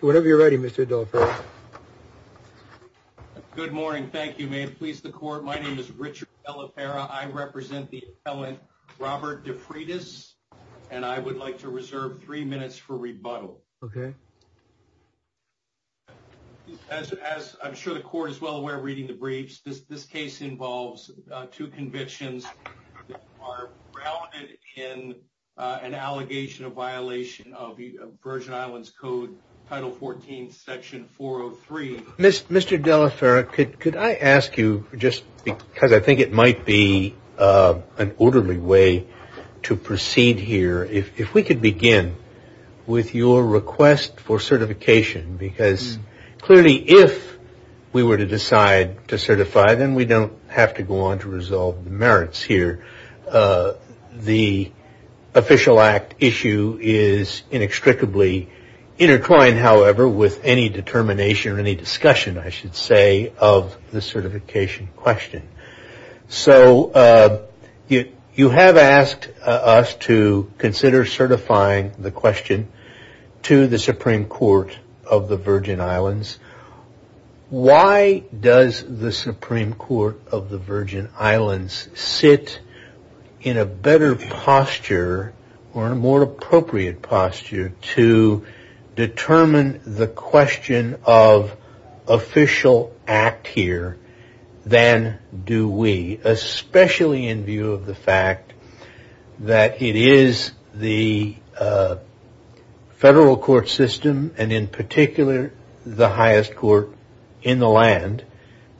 Whenever you're ready, Mr. Good morning. Thank you. May it please the court. My name is Richard. I represent the Robert defreitas and I would like to reserve 3 minutes for rebuttal. Okay, as I'm sure the court is well aware, reading the briefs, this case involves 2 convictions are grounded in. An allegation of violation of the Virgin Islands Code, Title 14, Section 403, Mr. Mr. Delaferra, could I ask you just because I think it might be an orderly way to proceed here if we could begin with your request for certification, because clearly, if we were to decide to certify, then we don't have to go on to resolve the merits here. The official act issue is inextricably intertwined, however, with any determination or any discussion, I should say, of the certification question. So, you have asked us to consider certifying the question to the Supreme Court of the Virgin Islands. Why does the Supreme Court of the Virgin Islands sit in a better posture or a more appropriate posture to determine the question of official act here than do we, especially in view of the fact that it is the federal court system and in particular, the highest court in the land,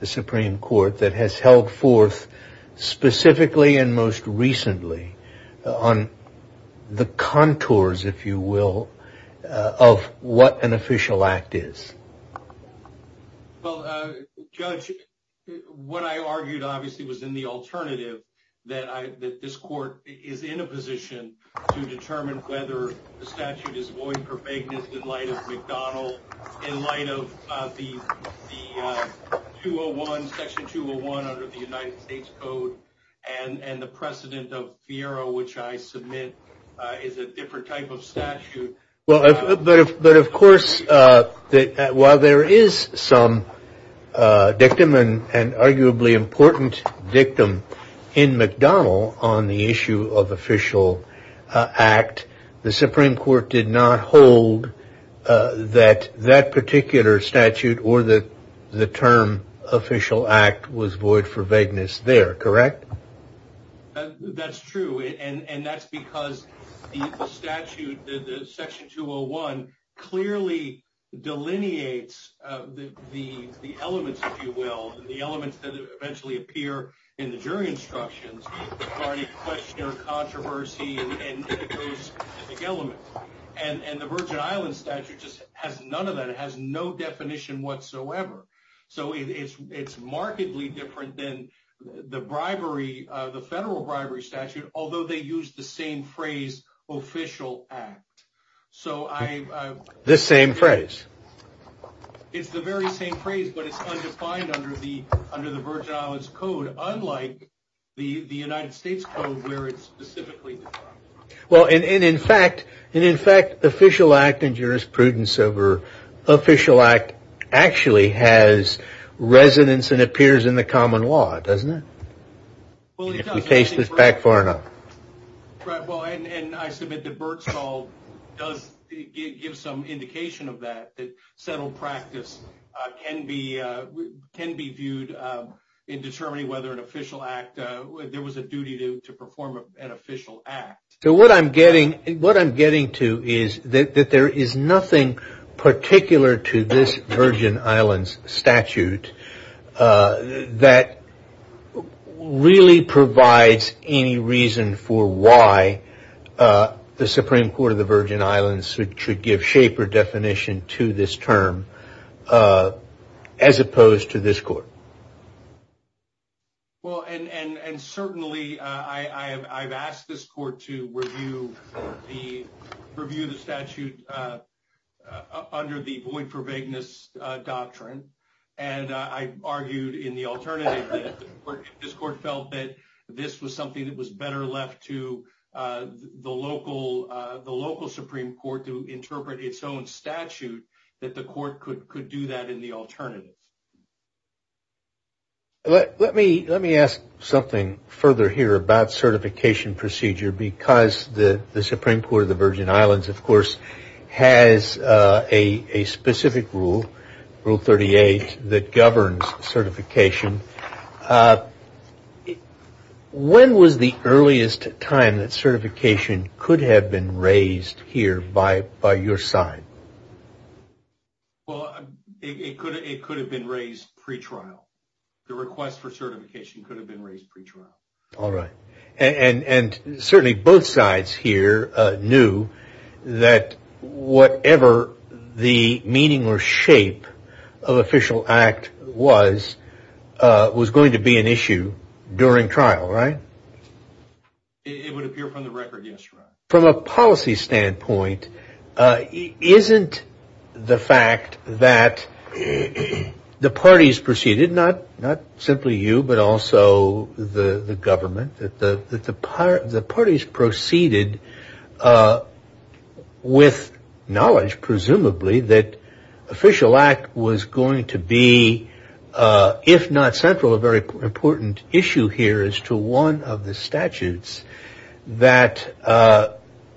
the Supreme Court, that has held forth specifically and most recently on the contours, if you will, of what an official act is? Well, Judge, what I argued, obviously, was in the alternative that this court is in a position to determine whether the statute is void for vagueness in light of McDonald, in light of the 201, Section 201 under the United States Code, and the precedent of FIERA, which I submit is a different type of statute. But of course, while there is some dictum and arguably important dictum in McDonald on the issue of official act, the Supreme Court did not hold that that particular statute or the term official act was void for vagueness there, correct? That's true. And that's because the statute, Section 201, clearly delineates the elements, if you will, the elements that eventually appear in the jury instructions regarding question or controversy and specific elements. And the Virgin Islands statute just has none of that. It has no definition whatsoever. So it's markedly different than the bribery, the federal bribery statute, although they use the same phrase, official act. So I... The same phrase. It's the very same phrase, but it's undefined under the Virgin Islands Code, unlike the United States Code, where it's specifically defined. Well, and in fact, and in fact, official act and jurisprudence over official act actually has resonance and appears in the common law, doesn't it? If you taste it back far enough. Well, and I submit that Bergstahl does give some indication of that, that settled practice can be viewed in determining whether an official act, there was a duty to perform an official act. So what I'm getting, what I'm getting to is that there is nothing particular to this Virgin Islands statute that really provides any reason for why the Supreme Court of the Virgin Islands should give shape or definition to this term, as opposed to this court. Well, and certainly I've asked this court to review the statute under the void for vagueness doctrine. And I argued in the alternative that this court felt that this was something that was better left to the local Supreme Court to interpret its own statute, that the court could do that in the alternative. Let me ask something further here about certification procedure, because the Supreme Court of the Virgin Islands, of course, has a specific rule, Rule 38, that governs certification. When was the earliest time that certification could have been raised here by your side? Well, it could have been raised pre-trial. The request for certification could have been raised pre-trial. All right. And certainly both sides here knew that whatever the meaning or shape of official act was, was going to be an issue during trial, right? It would appear from the record, yes. From a policy standpoint, isn't the fact that the parties proceeded, not simply you, but also the government, that the parties proceeded with knowledge, presumably, that official act was going to be, if not central, a very important issue here as to one of the statutes, that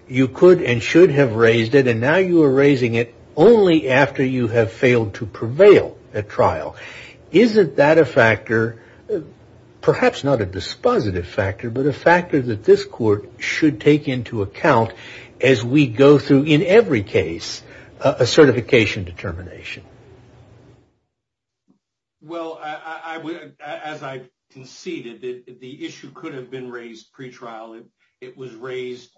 you could and should have raised it, and now you are raising it only after you have failed to prevail at trial. Isn't that a factor, perhaps not a dispositive factor, but a factor that this court should take into account as we go through, in every case, a certification determination? Well, as I conceded, the issue could have been raised pre-trial. It was raised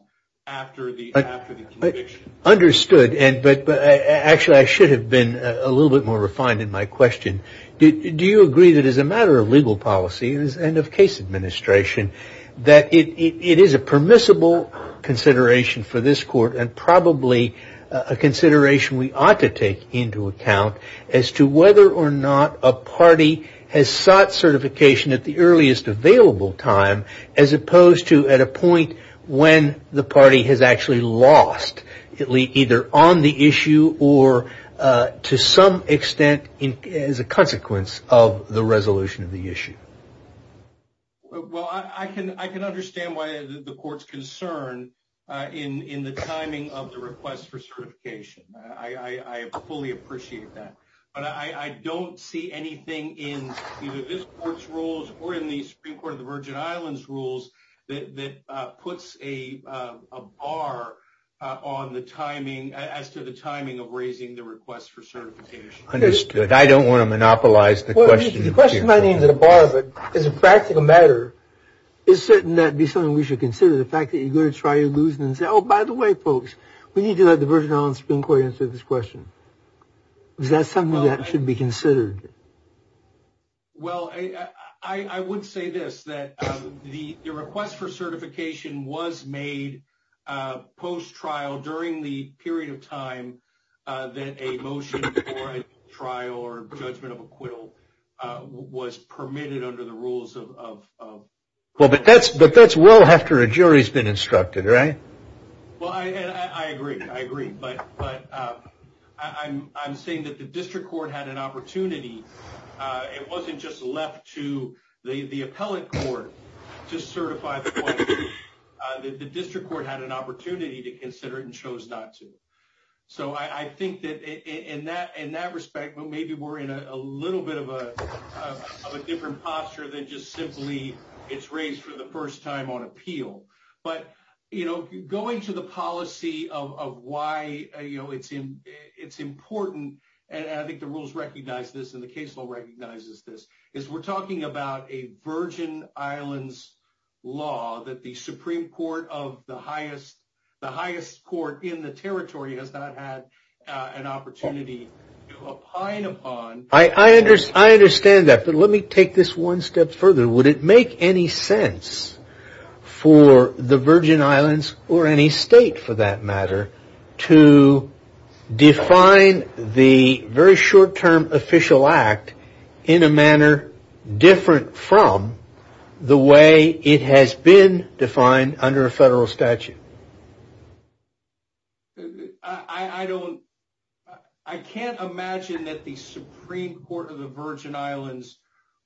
after the conviction. Understood. Actually, I should have been a little bit more refined in my question. Do you agree that as a matter of legal policy and of case administration, that it is a permissible consideration for this court and probably a consideration we ought to take into account as to whether or not a party has sought certification at the earliest available time as opposed to at a point when the party has actually lost either on the issue or to some extent as a consequence of the resolution of the issue? Well, I can understand why the court is concerned in the timing of the request for certification. I fully appreciate that. But I don't see anything in either this court's rules or in the Supreme Court of the Virgin Islands' rules that puts a bar on the timing, as to the timing of raising the request for certification. Understood. I don't want to monopolize the question. The question might be a bar, but as a practical matter, it's certain that it would be something we should consider. The fact that you're going to try to lose and say, oh, by the way, folks, we need to let the Virgin Islands Supreme Court answer this question. Is that something that should be considered? Well, I would say this, that the request for certification was made post-trial during the period of time that a motion for trial or judgment of acquittal was permitted under the rules of. Well, but that's but that's well after a jury's been instructed, right? Well, I agree. I agree. But but I'm I'm saying that the district court had an opportunity. It wasn't just left to the appellate court to certify that the district court had an opportunity to consider it and chose not to. So I think that in that in that respect, maybe we're in a little bit of a different posture than just simply it's raised for the first time on appeal. But, you know, going to the policy of why, you know, it's in it's important. And I think the rules recognize this and the case law recognizes this is we're talking about a Virgin Islands law that the Supreme Court of the highest the highest court in the territory has not had an opportunity to opine upon. I understand that. But let me take this one step further. Would it make any sense for the Virgin Islands or any state, for that matter, to define the very short term official act in a manner different from the way it has been defined under a federal statute? I don't I can't imagine that the Supreme Court of the Virgin Islands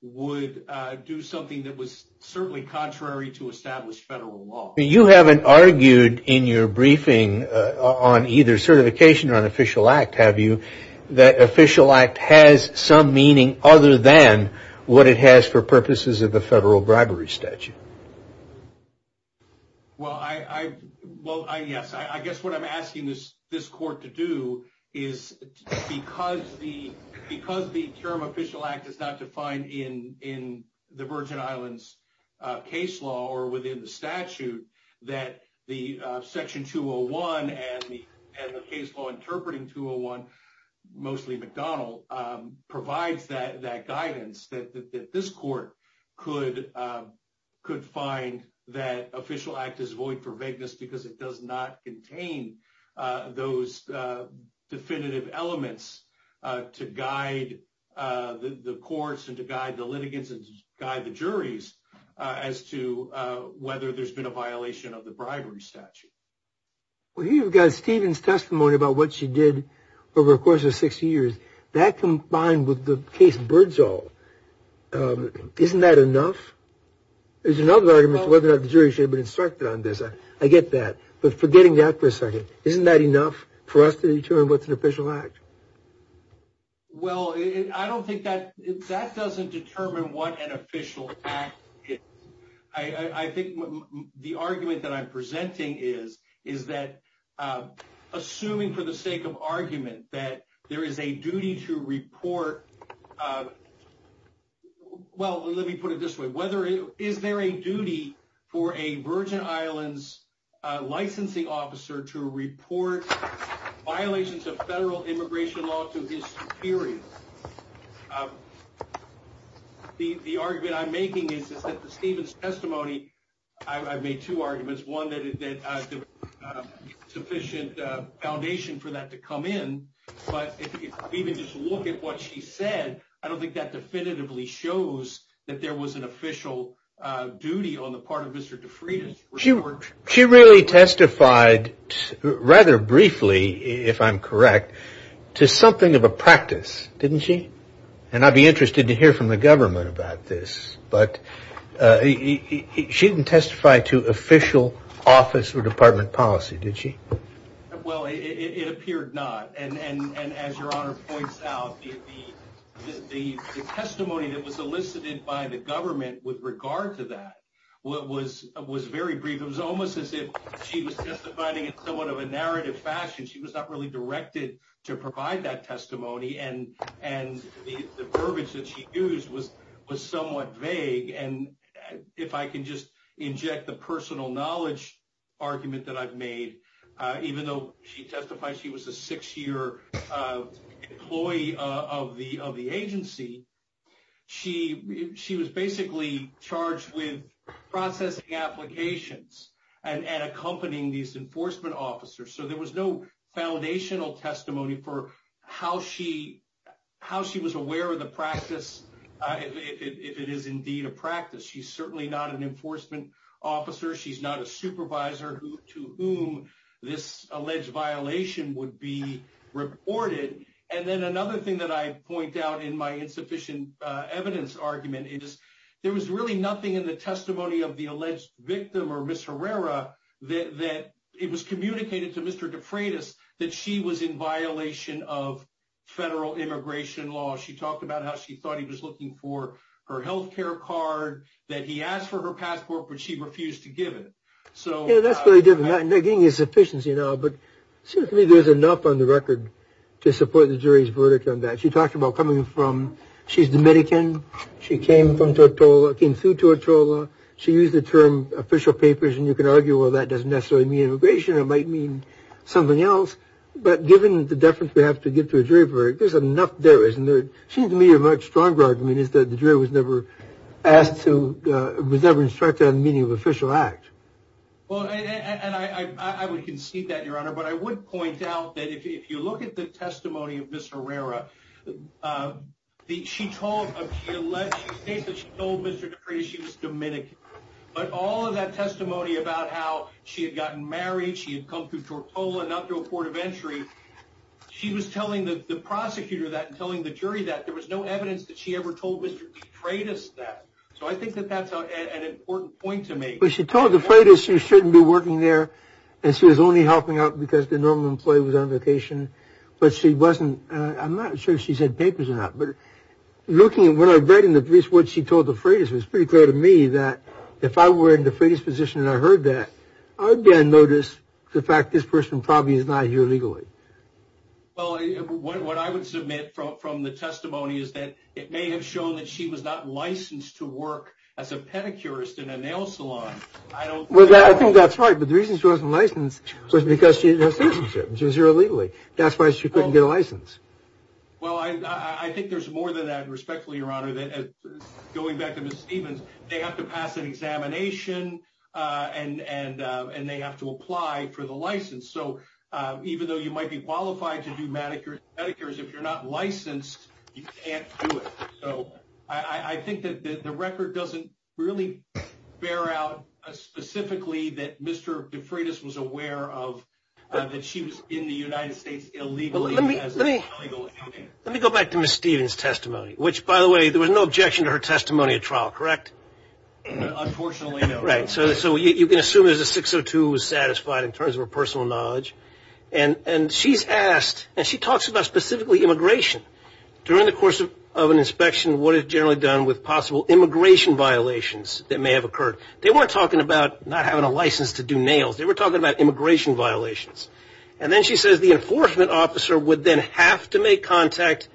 would do something that was certainly contrary to established federal law. You haven't argued in your briefing on either certification or an official act, have you? That official act has some meaning other than what it has for purposes of the federal bribery statute. Well, I well, I guess I guess what I'm asking this this court to do is because the because the term official act is not defined in in the Virgin Islands case law or within the statute that the section to a one and the case law interpreting to a one. Well, you've got Stephen's testimony about what she did over the course of 60 years. That combined with the case Birdsall. Isn't that enough? There's another argument whether the jury should have been instructed on this. I get that. But forgetting that for a second, isn't that enough for us to determine what's an official act? Well, I don't think that that doesn't determine what an official act is. I think the argument that I'm presenting is, is that assuming for the sake of argument that there is a duty to report. Well, let me put it this way, whether is there a duty for a Virgin Islands licensing officer to report violations of federal immigration law to his superior? The argument I'm making is that Stephen's testimony. I've made two arguments, one that is that sufficient foundation for that to come in. But even just look at what she said. I don't think that definitively shows that there was an official duty on the part of Mr. De Freitas. She really testified rather briefly, if I'm correct, to something of a practice, didn't she? And I'd be interested to hear from the government about this. But she didn't testify to official office or department policy, did she? Well, it appeared not. And as your honor points out, the testimony that was elicited by the government with regard to that was very brief. It was almost as if she was testifying in somewhat of a narrative fashion. She was not really directed to provide that testimony. And the verbiage that she used was somewhat vague. And if I can just inject the personal knowledge argument that I've made, even though she testified she was a six-year employee of the agency, she was basically charged with processing applications and accompanying these enforcement officers. So there was no foundational testimony for how she was aware of the practice, if it is indeed a practice. She's certainly not an enforcement officer. She's not a supervisor to whom this alleged violation would be reported. And then another thing that I point out in my insufficient evidence argument is there was really nothing in the testimony of the alleged victim or Ms. Herrera that it was communicated to Mr. De Freitas that she was in violation of federal immigration law. She talked about how she thought he was looking for her health care card, that he asked for her passport, but she refused to give it. Yeah, that's very different. They're getting insufficiency now, but to me there's enough on the record to support the jury's verdict on that. She talked about coming from, she's Dominican. She came from Tortola, came through Tortola. She used the term official papers, and you can argue, well, that doesn't necessarily mean immigration. It might mean something else. But given the deference we have to give to a jury verdict, there's enough there, isn't there? It seems to me a much stronger argument is that the jury was never asked to, was never instructed on the meaning of official act. Well, and I would concede that, Your Honor, but I would point out that if you look at the testimony of Ms. Herrera, she told, she states that she told Mr. De Freitas she was Dominican. But all of that testimony about how she had gotten married, she had come through Tortola, not through a port of entry, she was telling the prosecutor that and telling the jury that. There was no evidence that she ever told Mr. De Freitas that. So I think that that's an important point to make. But she told De Freitas she shouldn't be working there, and she was only helping out because the normal employee was on vacation. But she wasn't, I'm not sure if she said papers or not, but looking at what I read in the piece, what she told De Freitas, it was pretty clear to me that if I were in De Freitas' position and I heard that, I would then notice the fact this person probably is not here legally. Well, what I would submit from the testimony is that it may have shown that she was not licensed to work as a pedicurist in a nail salon. I think that's right, but the reason she wasn't licensed was because she had no citizenship. She was here illegally. That's why she couldn't get a license. Well, I think there's more than that. Respectfully, Your Honor, going back to Ms. Stevens, they have to pass an examination and they have to apply for the license. So even though you might be qualified to do medicare and pedicures, if you're not licensed, you can't do it. So I think that the record doesn't really bear out specifically that Mr. De Freitas was aware of that she was in the United States illegally. Let me go back to Ms. Stevens' testimony, which, by the way, there was no objection to her testimony at trial, correct? Unfortunately, no. Right. So you can assume there's a 602 who was satisfied in terms of her personal knowledge. And she's asked, and she talks about specifically immigration. During the course of an inspection, what is generally done with possible immigration violations that may have occurred? They weren't talking about not having a license to do nails. They were talking about immigration violations. And then she says the enforcement officer would then have to make contact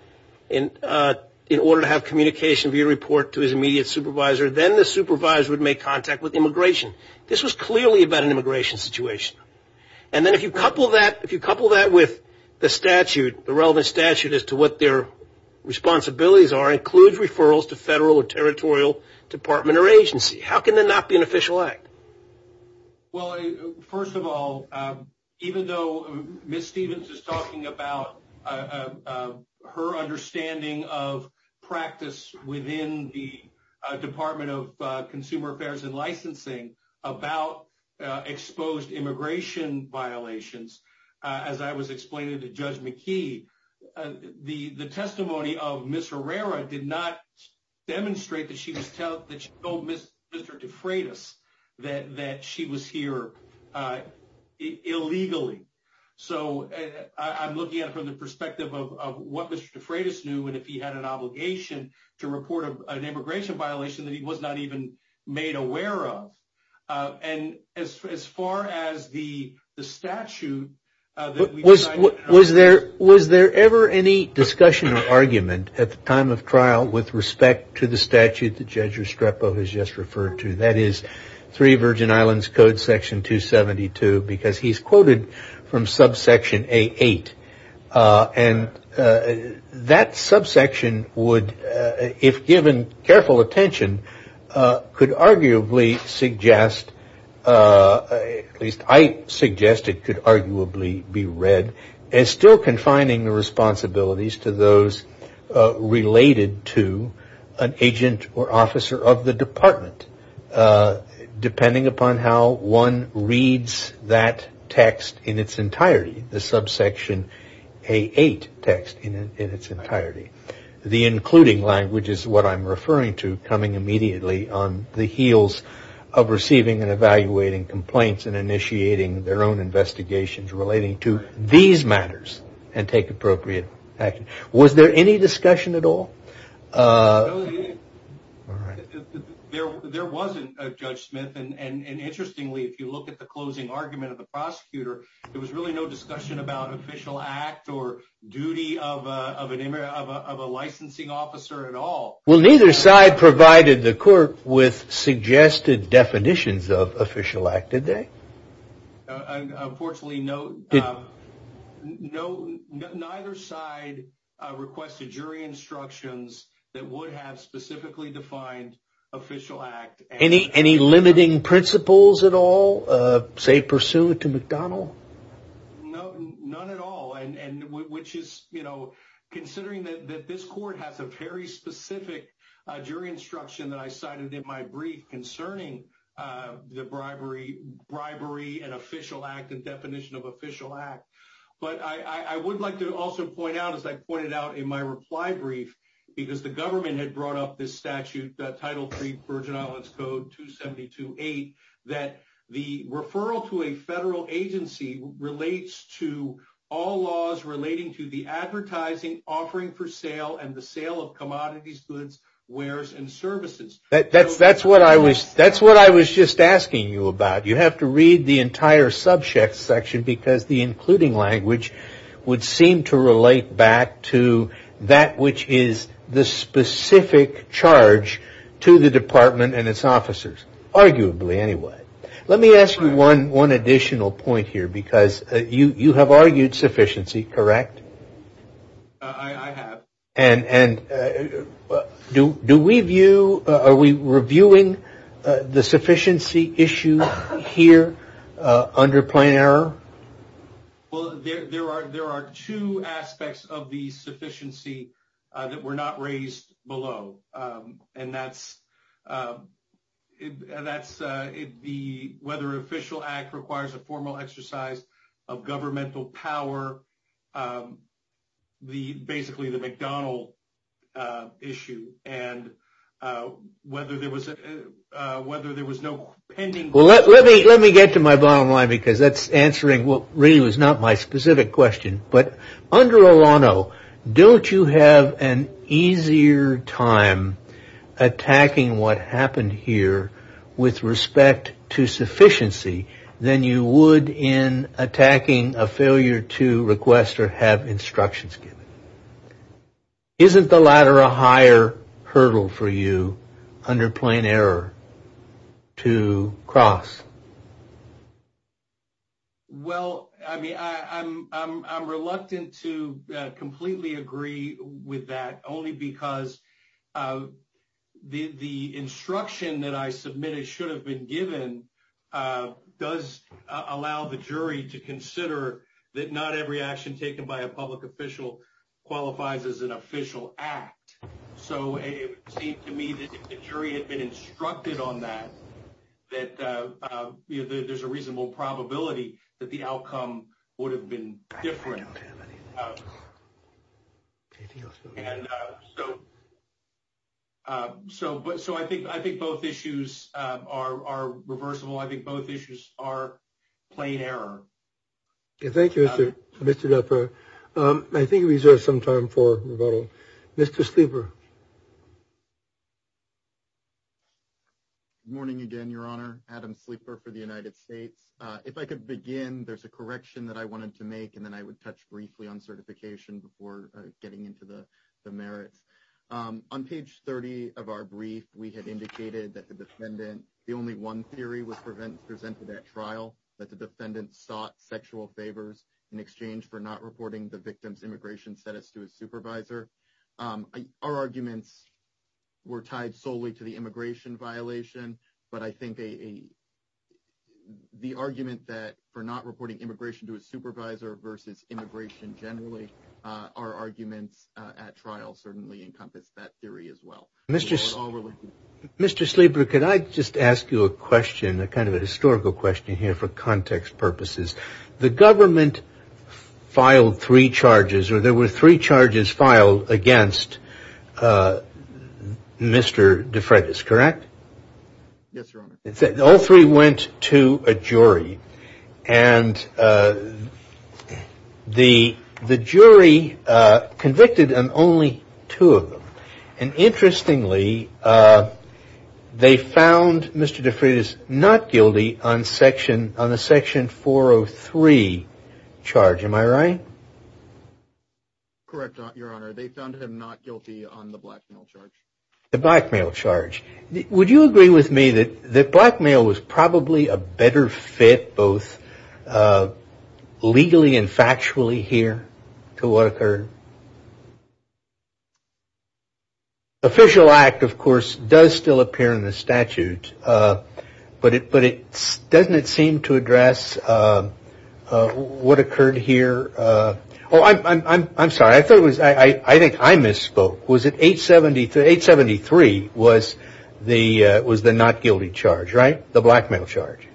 in order to have communication via report to his immediate supervisor. Then the supervisor would make contact with immigration. This was clearly about an immigration situation. If you couple that with the relevant statute as to what their responsibilities are, includes referrals to federal or territorial department or agency. How can that not be an official act? Well, first of all, even though Ms. Stevens is talking about her understanding of practice within the Department of Consumer Affairs and Licensing about exposed immigration violations, as I was explaining to Judge McKee, the testimony of Ms. Herrera did not demonstrate that she told Mr. DeFreitas that she was here illegally. So I'm looking at it from the perspective of what Mr. DeFreitas knew and if he had an obligation to report an immigration violation that he was not even made aware of. And as far as the statute... Was there ever any discussion or argument at the time of trial with respect to the statute that Judge Restrepo has just referred to? That is 3 Virgin Islands Code section 272 because he's quoted from subsection A8. And that subsection would, if given careful attention, could arguably suggest... At least I suggest it could arguably be read as still confining the responsibilities to those related to an agent or officer of the department. Depending upon how one reads that text in its entirety, the subsection A8 text in its entirety. The including language is what I'm referring to coming immediately on the heels of receiving and evaluating complaints and initiating their own investigations relating to these matters and take appropriate action. Was there any discussion at all? There wasn't, Judge Smith. And interestingly, if you look at the closing argument of the prosecutor, there was really no discussion about official act or duty of a licensing officer at all. Well, neither side provided the court with suggested definitions of official act, did they? Unfortunately, neither side requested jury instructions that would have specifically defined official act. Any limiting principles at all, say pursuant to McDonald? No, none at all. And which is, you know, considering that this court has a very specific jury instruction that I cited in my brief concerning the bribery and official act and definition of official act. But I would like to also point out, as I pointed out in my reply brief, because the government had brought up this statute, Title III, Virgin Islands Code 272.8, that the referral to a federal agency relates to all laws relating to the advertising, offering for sale, and the sale of commodities, goods, wares, and services. That's what I was just asking you about. You have to read the entire subject section because the including language would seem to relate back to that which is the specific charge to the department and its officers, arguably anyway. Let me ask you one additional point here because you have argued sufficiency, correct? I have. And do we view, are we reviewing the sufficiency issue here under plan error? Well, there are two aspects of the sufficiency that were not raised below. And that's whether official act requires a formal exercise of governmental power, basically the McDonald issue, and whether there was no pending... Well, let me get to my bottom line because that's answering what really was not my specific question. But under Olano, don't you have an easier time attacking what happened here with respect to sufficiency than you would in attacking a failure to request or have instructions given? Isn't the latter a higher hurdle for you under plan error to cross? Well, I mean, I'm reluctant to completely agree with that only because the instruction that I submitted should have been given does allow the jury to consider that not every action taken by a public official qualifies as an official act. So it would seem to me that if the jury had been instructed on that, that there's a reasonable probability that the outcome would have been different. So I think both issues are reversible. I think both issues are plain error. Thank you, Mr. Leffer. I think we reserve some time for rebuttal. Mr. Sleeper. Good morning again, Your Honor. Adam Sleeper for the United States. If I could begin, there's a correction that I wanted to make, and then I would touch briefly on certification before getting into the merits. On page 30 of our brief, we had indicated that the defendant, the only one theory was presented at trial, that the defendant sought sexual favors in exchange for not reporting the victim's immigration status to a supervisor. Our arguments were tied solely to the immigration violation, but I think the argument that for not reporting immigration to a supervisor versus immigration generally, our arguments at trial certainly encompass that theory as well. Mr. Sleeper, could I just ask you a question, a kind of a historical question here for context purposes? The government filed three charges, or there were three charges filed against Mr. De Freitas, correct? Yes, Your Honor. All three went to a jury, and the jury convicted on only two of them, and interestingly, they found Mr. De Freitas not guilty on the section 403 charge. Am I right? Correct, Your Honor. They found him not guilty on the blackmail charge. The blackmail charge. Would you agree with me that blackmail was probably a better fit, both legally and factually here, to what occurred? The official act, of course, does still appear in the statute, but doesn't it seem to address what occurred here? I'm sorry. I think I misspoke. Was it 873? 873 was the not guilty charge, right? The blackmail charge.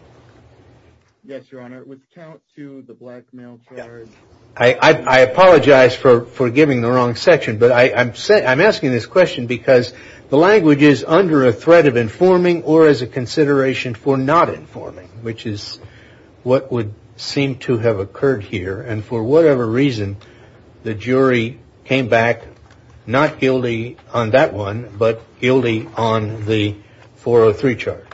Yes, Your Honor. It would count to the blackmail charge. I apologize for giving the wrong section, but I'm asking this question because the language is under a threat of informing or as a consideration for not informing, which is what would seem to have occurred here, and for whatever reason, the jury came back not guilty on that one, but guilty on the 403 charge.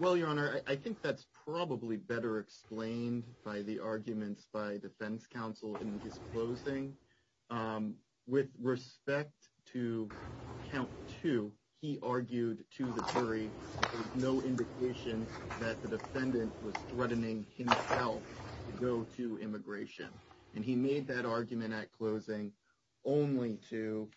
Well, Your Honor, I think that's probably better explained by the arguments by defense counsel in his closing. With respect to count two, he argued to the jury with no indication that the defendant was threatening himself to go to immigration, and he made that argument at closing only to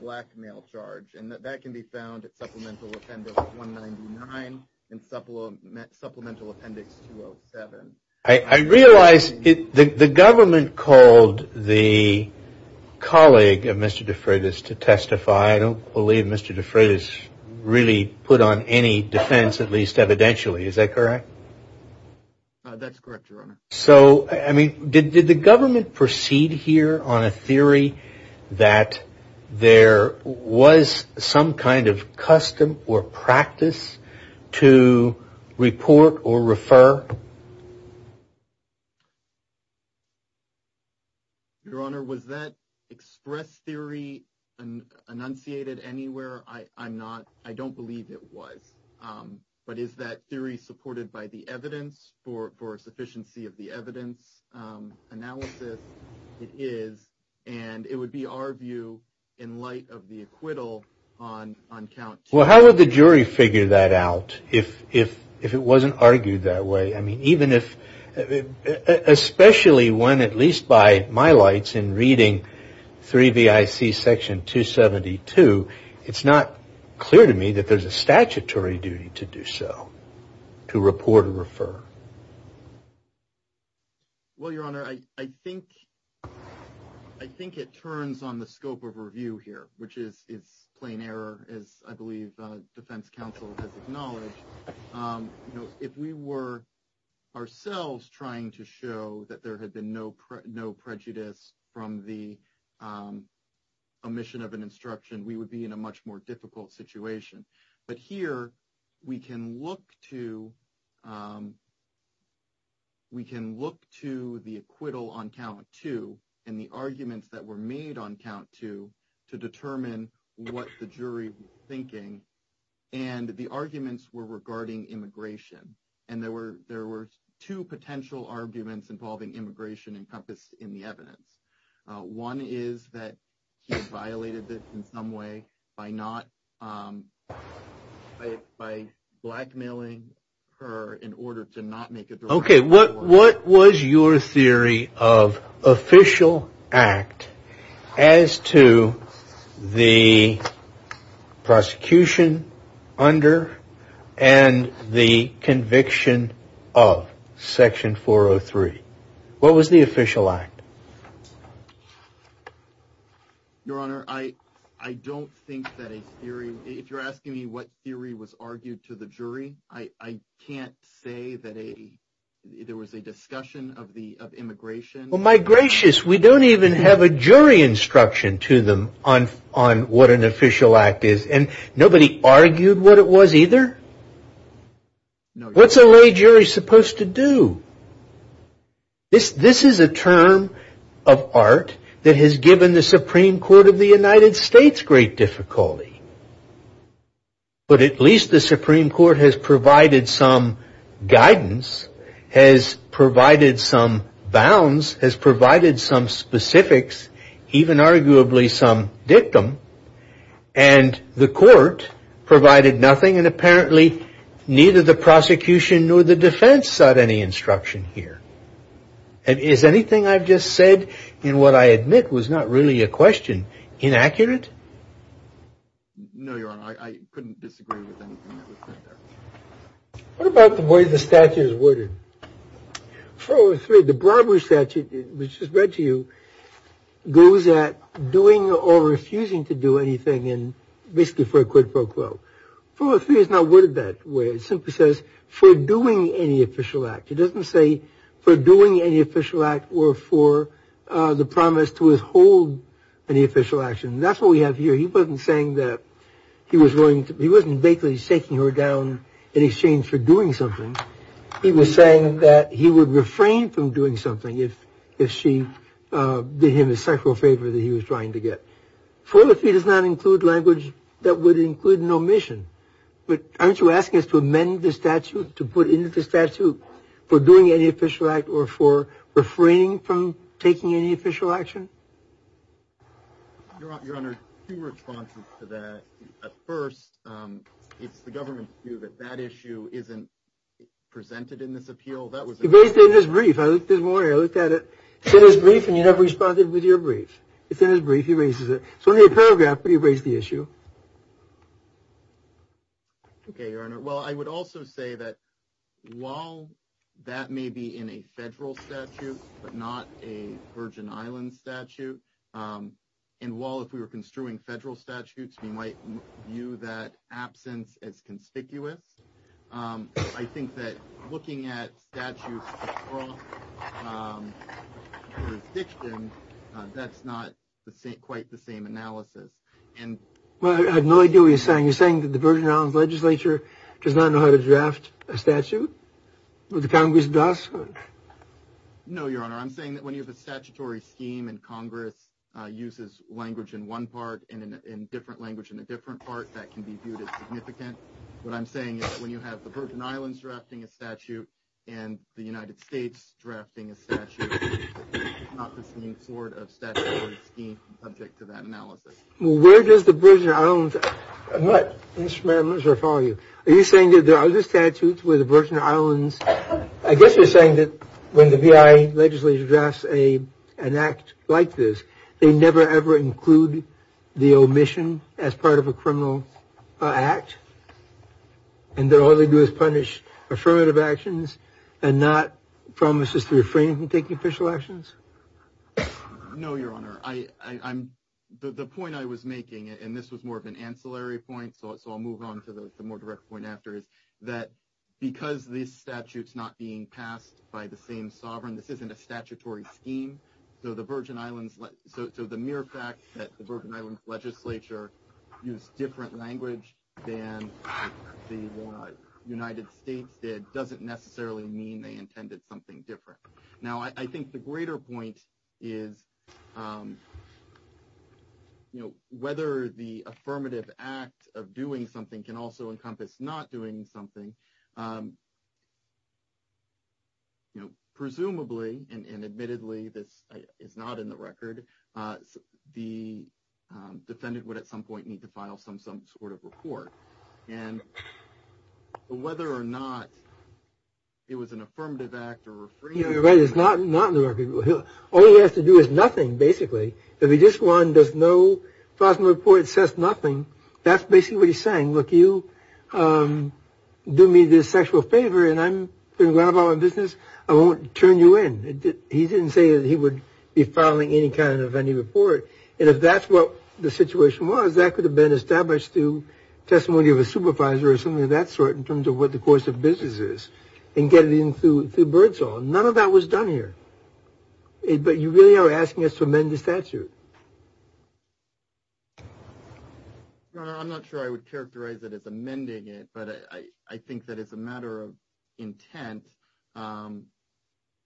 blackmail charge, and that can be found at Supplemental Appendix 199 and Supplemental Appendix 207. I realize the government called the colleague of Mr. De Freitas to testify. I don't believe Mr. De Freitas really put on any defense, at least evidentially. Is that correct? That's correct, Your Honor. So, I mean, did the government proceed here on a theory that there was some kind of custom or practice to report or refer? Your Honor, was that express theory enunciated anywhere? I don't believe it was, but is that theory supported by the evidence for sufficiency of the evidence analysis? It is, and it would be our view in light of the acquittal on count two. Well, how would the jury figure that out if it wasn't argued that way? I mean, even if, especially when at least by my lights in reading 3VIC Section 272, it's not clear to me that there's a statutory duty to do so, to report or refer. Well, Your Honor, I think it turns on the scope of review here, which is plain error, as I believe the defense counsel has acknowledged. If we were ourselves trying to show that there had been no prejudice from the omission of an instruction, we would be in a much more difficult situation. But here, we can look to the acquittal on count two and the arguments that were made on count two to determine what the jury was thinking, and the arguments were regarding immigration. And there were two potential arguments involving immigration encompassed in the evidence. One is that he violated this in some way by blackmailing her in order to not make a direct report. Okay, what was your theory of official act as to the prosecution under and the conviction of Section 403? What was the official act? Your Honor, I don't think that a theory, if you're asking me what theory was argued to the jury, I can't say that there was a discussion of immigration. Well, my gracious, we don't even have a jury instruction to them on what an official act is, and nobody argued what it was either? What's a lay jury supposed to do? This is a term of art that has given the Supreme Court of the United States great difficulty. But at least the Supreme Court has provided some guidance, has provided some bounds, has provided some specifics, even arguably some dictum. And the court provided nothing, and apparently neither the prosecution nor the defense sought any instruction here. And is anything I've just said in what I admit was not really a question inaccurate? No, Your Honor, I couldn't disagree with anything that was said there. What about the way the statute is worded? 403, the Broadway statute, which is read to you, goes at doing or refusing to do anything and basically for a quid pro quo. 403 is not worded that way. It simply says for doing any official act. It doesn't say for doing any official act or for the promise to withhold any official action. That's what we have here. He wasn't saying that he was going to, he wasn't basically shaking her down in exchange for doing something. He was saying that he would refrain from doing something if she did him a central favor that he was trying to get. 403 does not include language that would include an omission. But aren't you asking us to amend the statute to put into the statute for doing any official act or for refraining from taking any official action? Your Honor, two responses to that. At first, it's the government's view that that issue isn't presented in this appeal. That was based in his brief. I looked at it, said his brief, and you never responded with your brief. It's in his brief. He raises it. So in a paragraph, he raised the issue. OK, your Honor. Well, I would also say that while that may be in a federal statute, but not a Virgin Islands statute. And while if we were construing federal statutes, we might view that absence as conspicuous. I think that looking at statutes across jurisdictions, that's not quite the same analysis. And I had no idea what you're saying. You're saying that the Virgin Islands legislature does not know how to draft a statute. The Congress does. No, your Honor, I'm saying that when you have a statutory scheme and Congress uses language in one part and in different language in a different part, that can be viewed as significant. What I'm saying is when you have the Virgin Islands drafting a statute and the United States drafting a statute, not the same sort of statutory scheme subject to that analysis. Well, where does the Virgin Islands and what instruments are following you? Are you saying that there are other statutes with the Virgin Islands? I guess you're saying that when the V.I. legislature drafts a an act like this, they never, ever include the omission as part of a criminal act. And then all they do is punish affirmative actions and not promises to refrain from taking official actions. No, your Honor, I I'm the point I was making, and this was more of an ancillary point. So I'll move on to the more direct point after is that because these statutes not being passed by the same sovereign, this isn't a statutory scheme. So the Virgin Islands. So the mere fact that the Virgin Islands legislature use different language than the United States did doesn't necessarily mean they intended something different. Now, I think the greater point is, you know, whether the affirmative act of doing something can also encompass not doing something. You know, presumably and admittedly, this is not in the record. The defendant would at some point need to file some some sort of report and whether or not. It was an affirmative act or you're right, it's not not in the record. All he has to do is nothing. Basically, if he just won, does no positive report says nothing. That's basically what he's saying. Look, you do me this sexual favor and I'm going to grab all my business. I won't turn you in. He didn't say that he would be filing any kind of any report. And if that's what the situation was, that could have been established to testimony of a supervisor or something of that sort in terms of what the course of business is and get it into the birds. None of that was done here. But you really are asking us to amend the statute. I'm not sure I would characterize it as amending it, but I think that it's a matter of intent.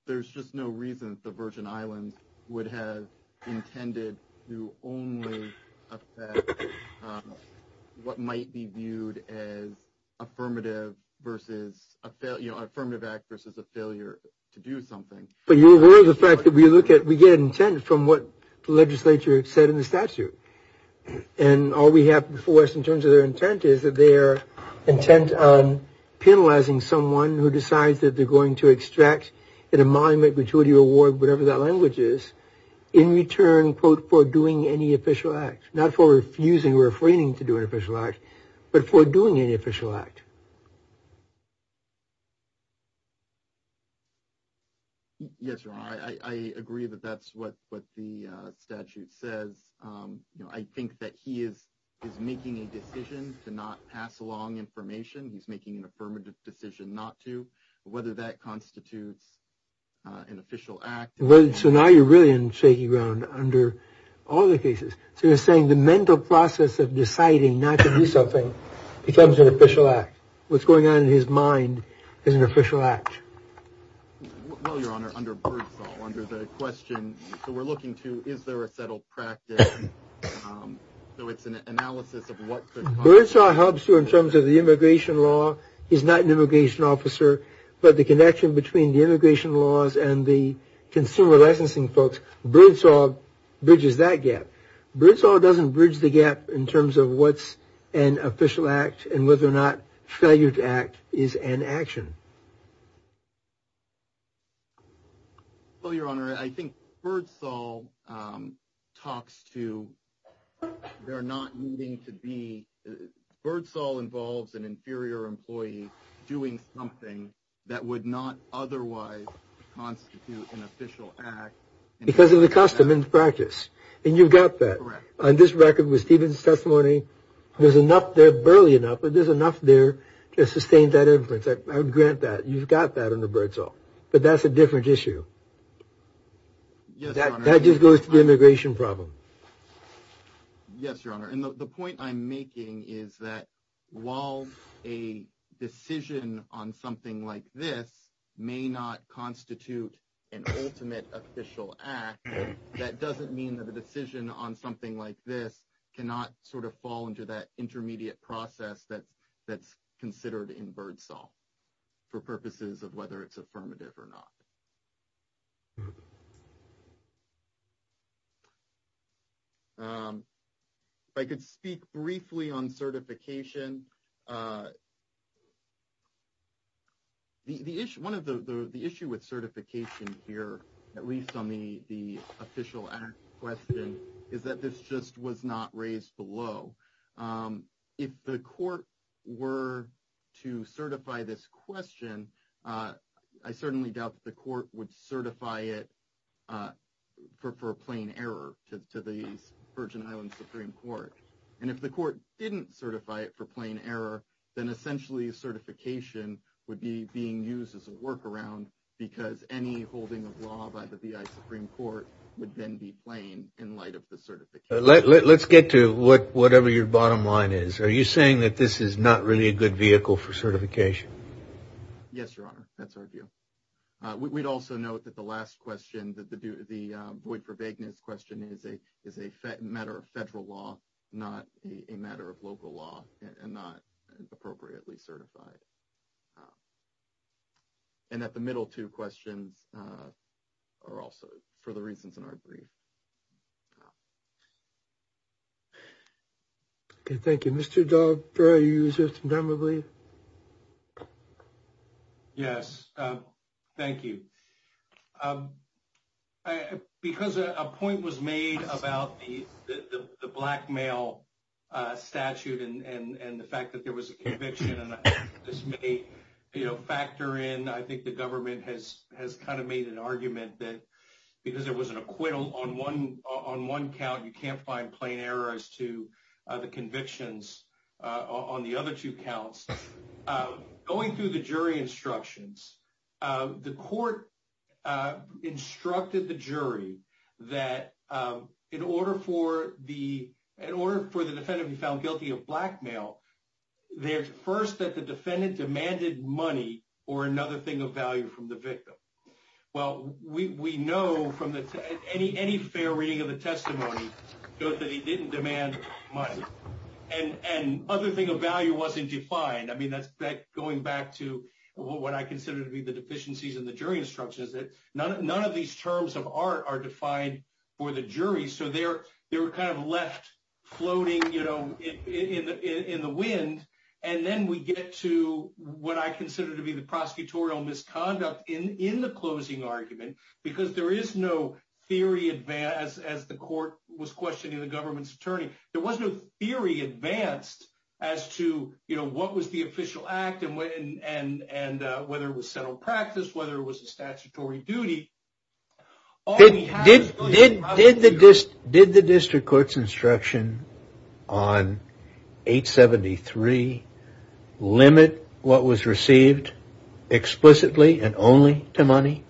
There's just no reason the Virgin Islands would have intended to only affect what might be viewed as affirmative versus affirmative act versus a failure to do something. But you're aware of the fact that we look at we get intent from what the legislature said in the statute. And all we have for us in terms of their intent is that their intent on penalizing someone who decides that they're going to extract in a monument, whatever that language is, in return, quote, for doing any official act, not for refusing or refraining to do an official act, but for doing any official act. Yes, I agree that that's what the statute says. I think that he is is making a decision to not pass along information. He's making an affirmative decision not to, whether that constitutes an official act. Well, so now you're really in shaky ground under all the cases. So you're saying the mental process of deciding not to do something becomes an official act. What's going on in his mind is an official act. Well, your honor, under the question we're looking to, is there a settled practice? So it's an analysis of what birds are helps you in terms of the immigration law is not an immigration officer, but the connection between the immigration laws and the consumer licensing folks. Bridges that gap. Bridges all doesn't bridge the gap in terms of what's an official act and whether or not failure to act is an action. Well, your honor, I think birds all talks to they're not needing to be birds all involves an inferior employee doing something that would not otherwise constitute an official act. Because of the custom and practice. And you've got that on this record was Stephen's testimony. There's enough there early enough, but there's enough there to sustain that inference. I would grant that you've got that in the birds. But that's a different issue. That just goes to the immigration problem. Yes, your honor. And the point I'm making is that while a decision on something like this may not constitute an ultimate official act. That doesn't mean that the decision on something like this cannot sort of fall into that intermediate process that that's considered in birds. All for purposes of whether it's affirmative or not. I could speak briefly on certification. The issue 1 of the issue with certification here, at least on the, the official question is that this just was not raised below. If the court were to certify this question, I certainly doubt the court would certify it. For plain error to the Virgin Islands Supreme Court. And if the court didn't certify it for plain error, then essentially certification would be being used as a workaround. Because any holding of law by the Supreme Court would then be plain in light of the certification. Let's get to what whatever your bottom line is. Are you saying that this is not really a good vehicle for certification? Yes, your honor. That's our view. We'd also note that the last question that the the void for vagueness question is a is a matter of federal law, not a matter of local law and not appropriately certified. And that the middle two questions are also for the reasons in our brief. Thank you, Mr. Yes, thank you. Because a point was made about the blackmail. Statute and the fact that there was a conviction and this may factor in, I think the government has has kind of made an argument that. Because there was an acquittal on one on one count, you can't find plain errors to the convictions on the other two counts going through the jury instructions. The court instructed the jury that in order for the in order for the defendant to be found guilty of blackmail. There's first that the defendant demanded money or another thing of value from the victim. Well, we know from any any fair reading of the testimony that he didn't demand money and other thing of value wasn't defined. I mean, that's that going back to what I consider to be the deficiencies in the jury instructions that none of these terms of art are defined for the jury. So they're, they're kind of left floating, you know, in the wind. And then we get to what I consider to be the prosecutorial misconduct in the closing argument, because there is no theory advanced as the court was questioning the government's attorney. There was no theory advanced as to, you know, what was the official act and whether it was settled practice, whether it was a statutory duty. Did the district court's instruction on 873 limit what was received explicitly and only to money?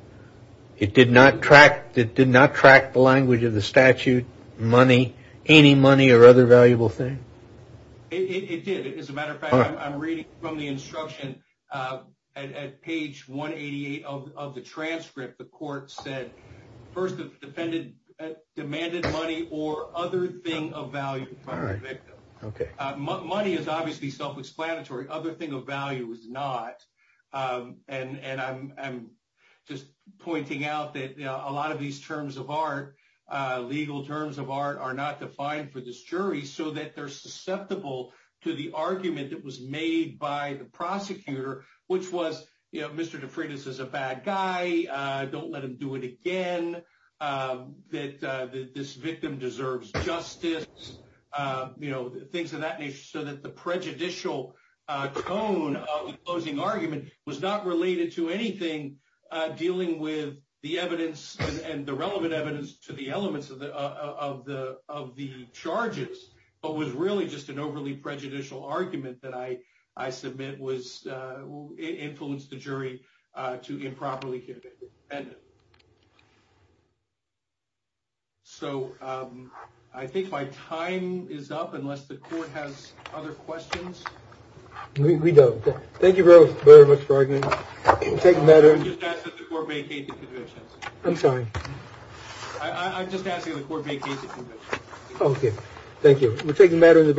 It did not track, it did not track the language of the statute, money, any money or other valuable thing. It did. As a matter of fact, I'm reading from the instruction at page 188 of the transcript. The court said first, the defendant demanded money or other thing of value. OK, money is obviously self-explanatory. Other thing of value is not. And I'm just pointing out that a lot of these terms of art, legal terms of art are not defined for this jury so that they're susceptible to the argument that was made by the prosecutor, which was, you know, Mr. The prejudicial tone of the closing argument was not related to anything dealing with the evidence and the relevant evidence to the elements of the of the of the charges. But was really just an overly prejudicial argument that I I submit was influenced the jury to improperly. And. So I think my time is up, unless the court has other questions, we don't. Thank you very, very much for taking better. I'm sorry. I'm just asking the court. OK, thank you.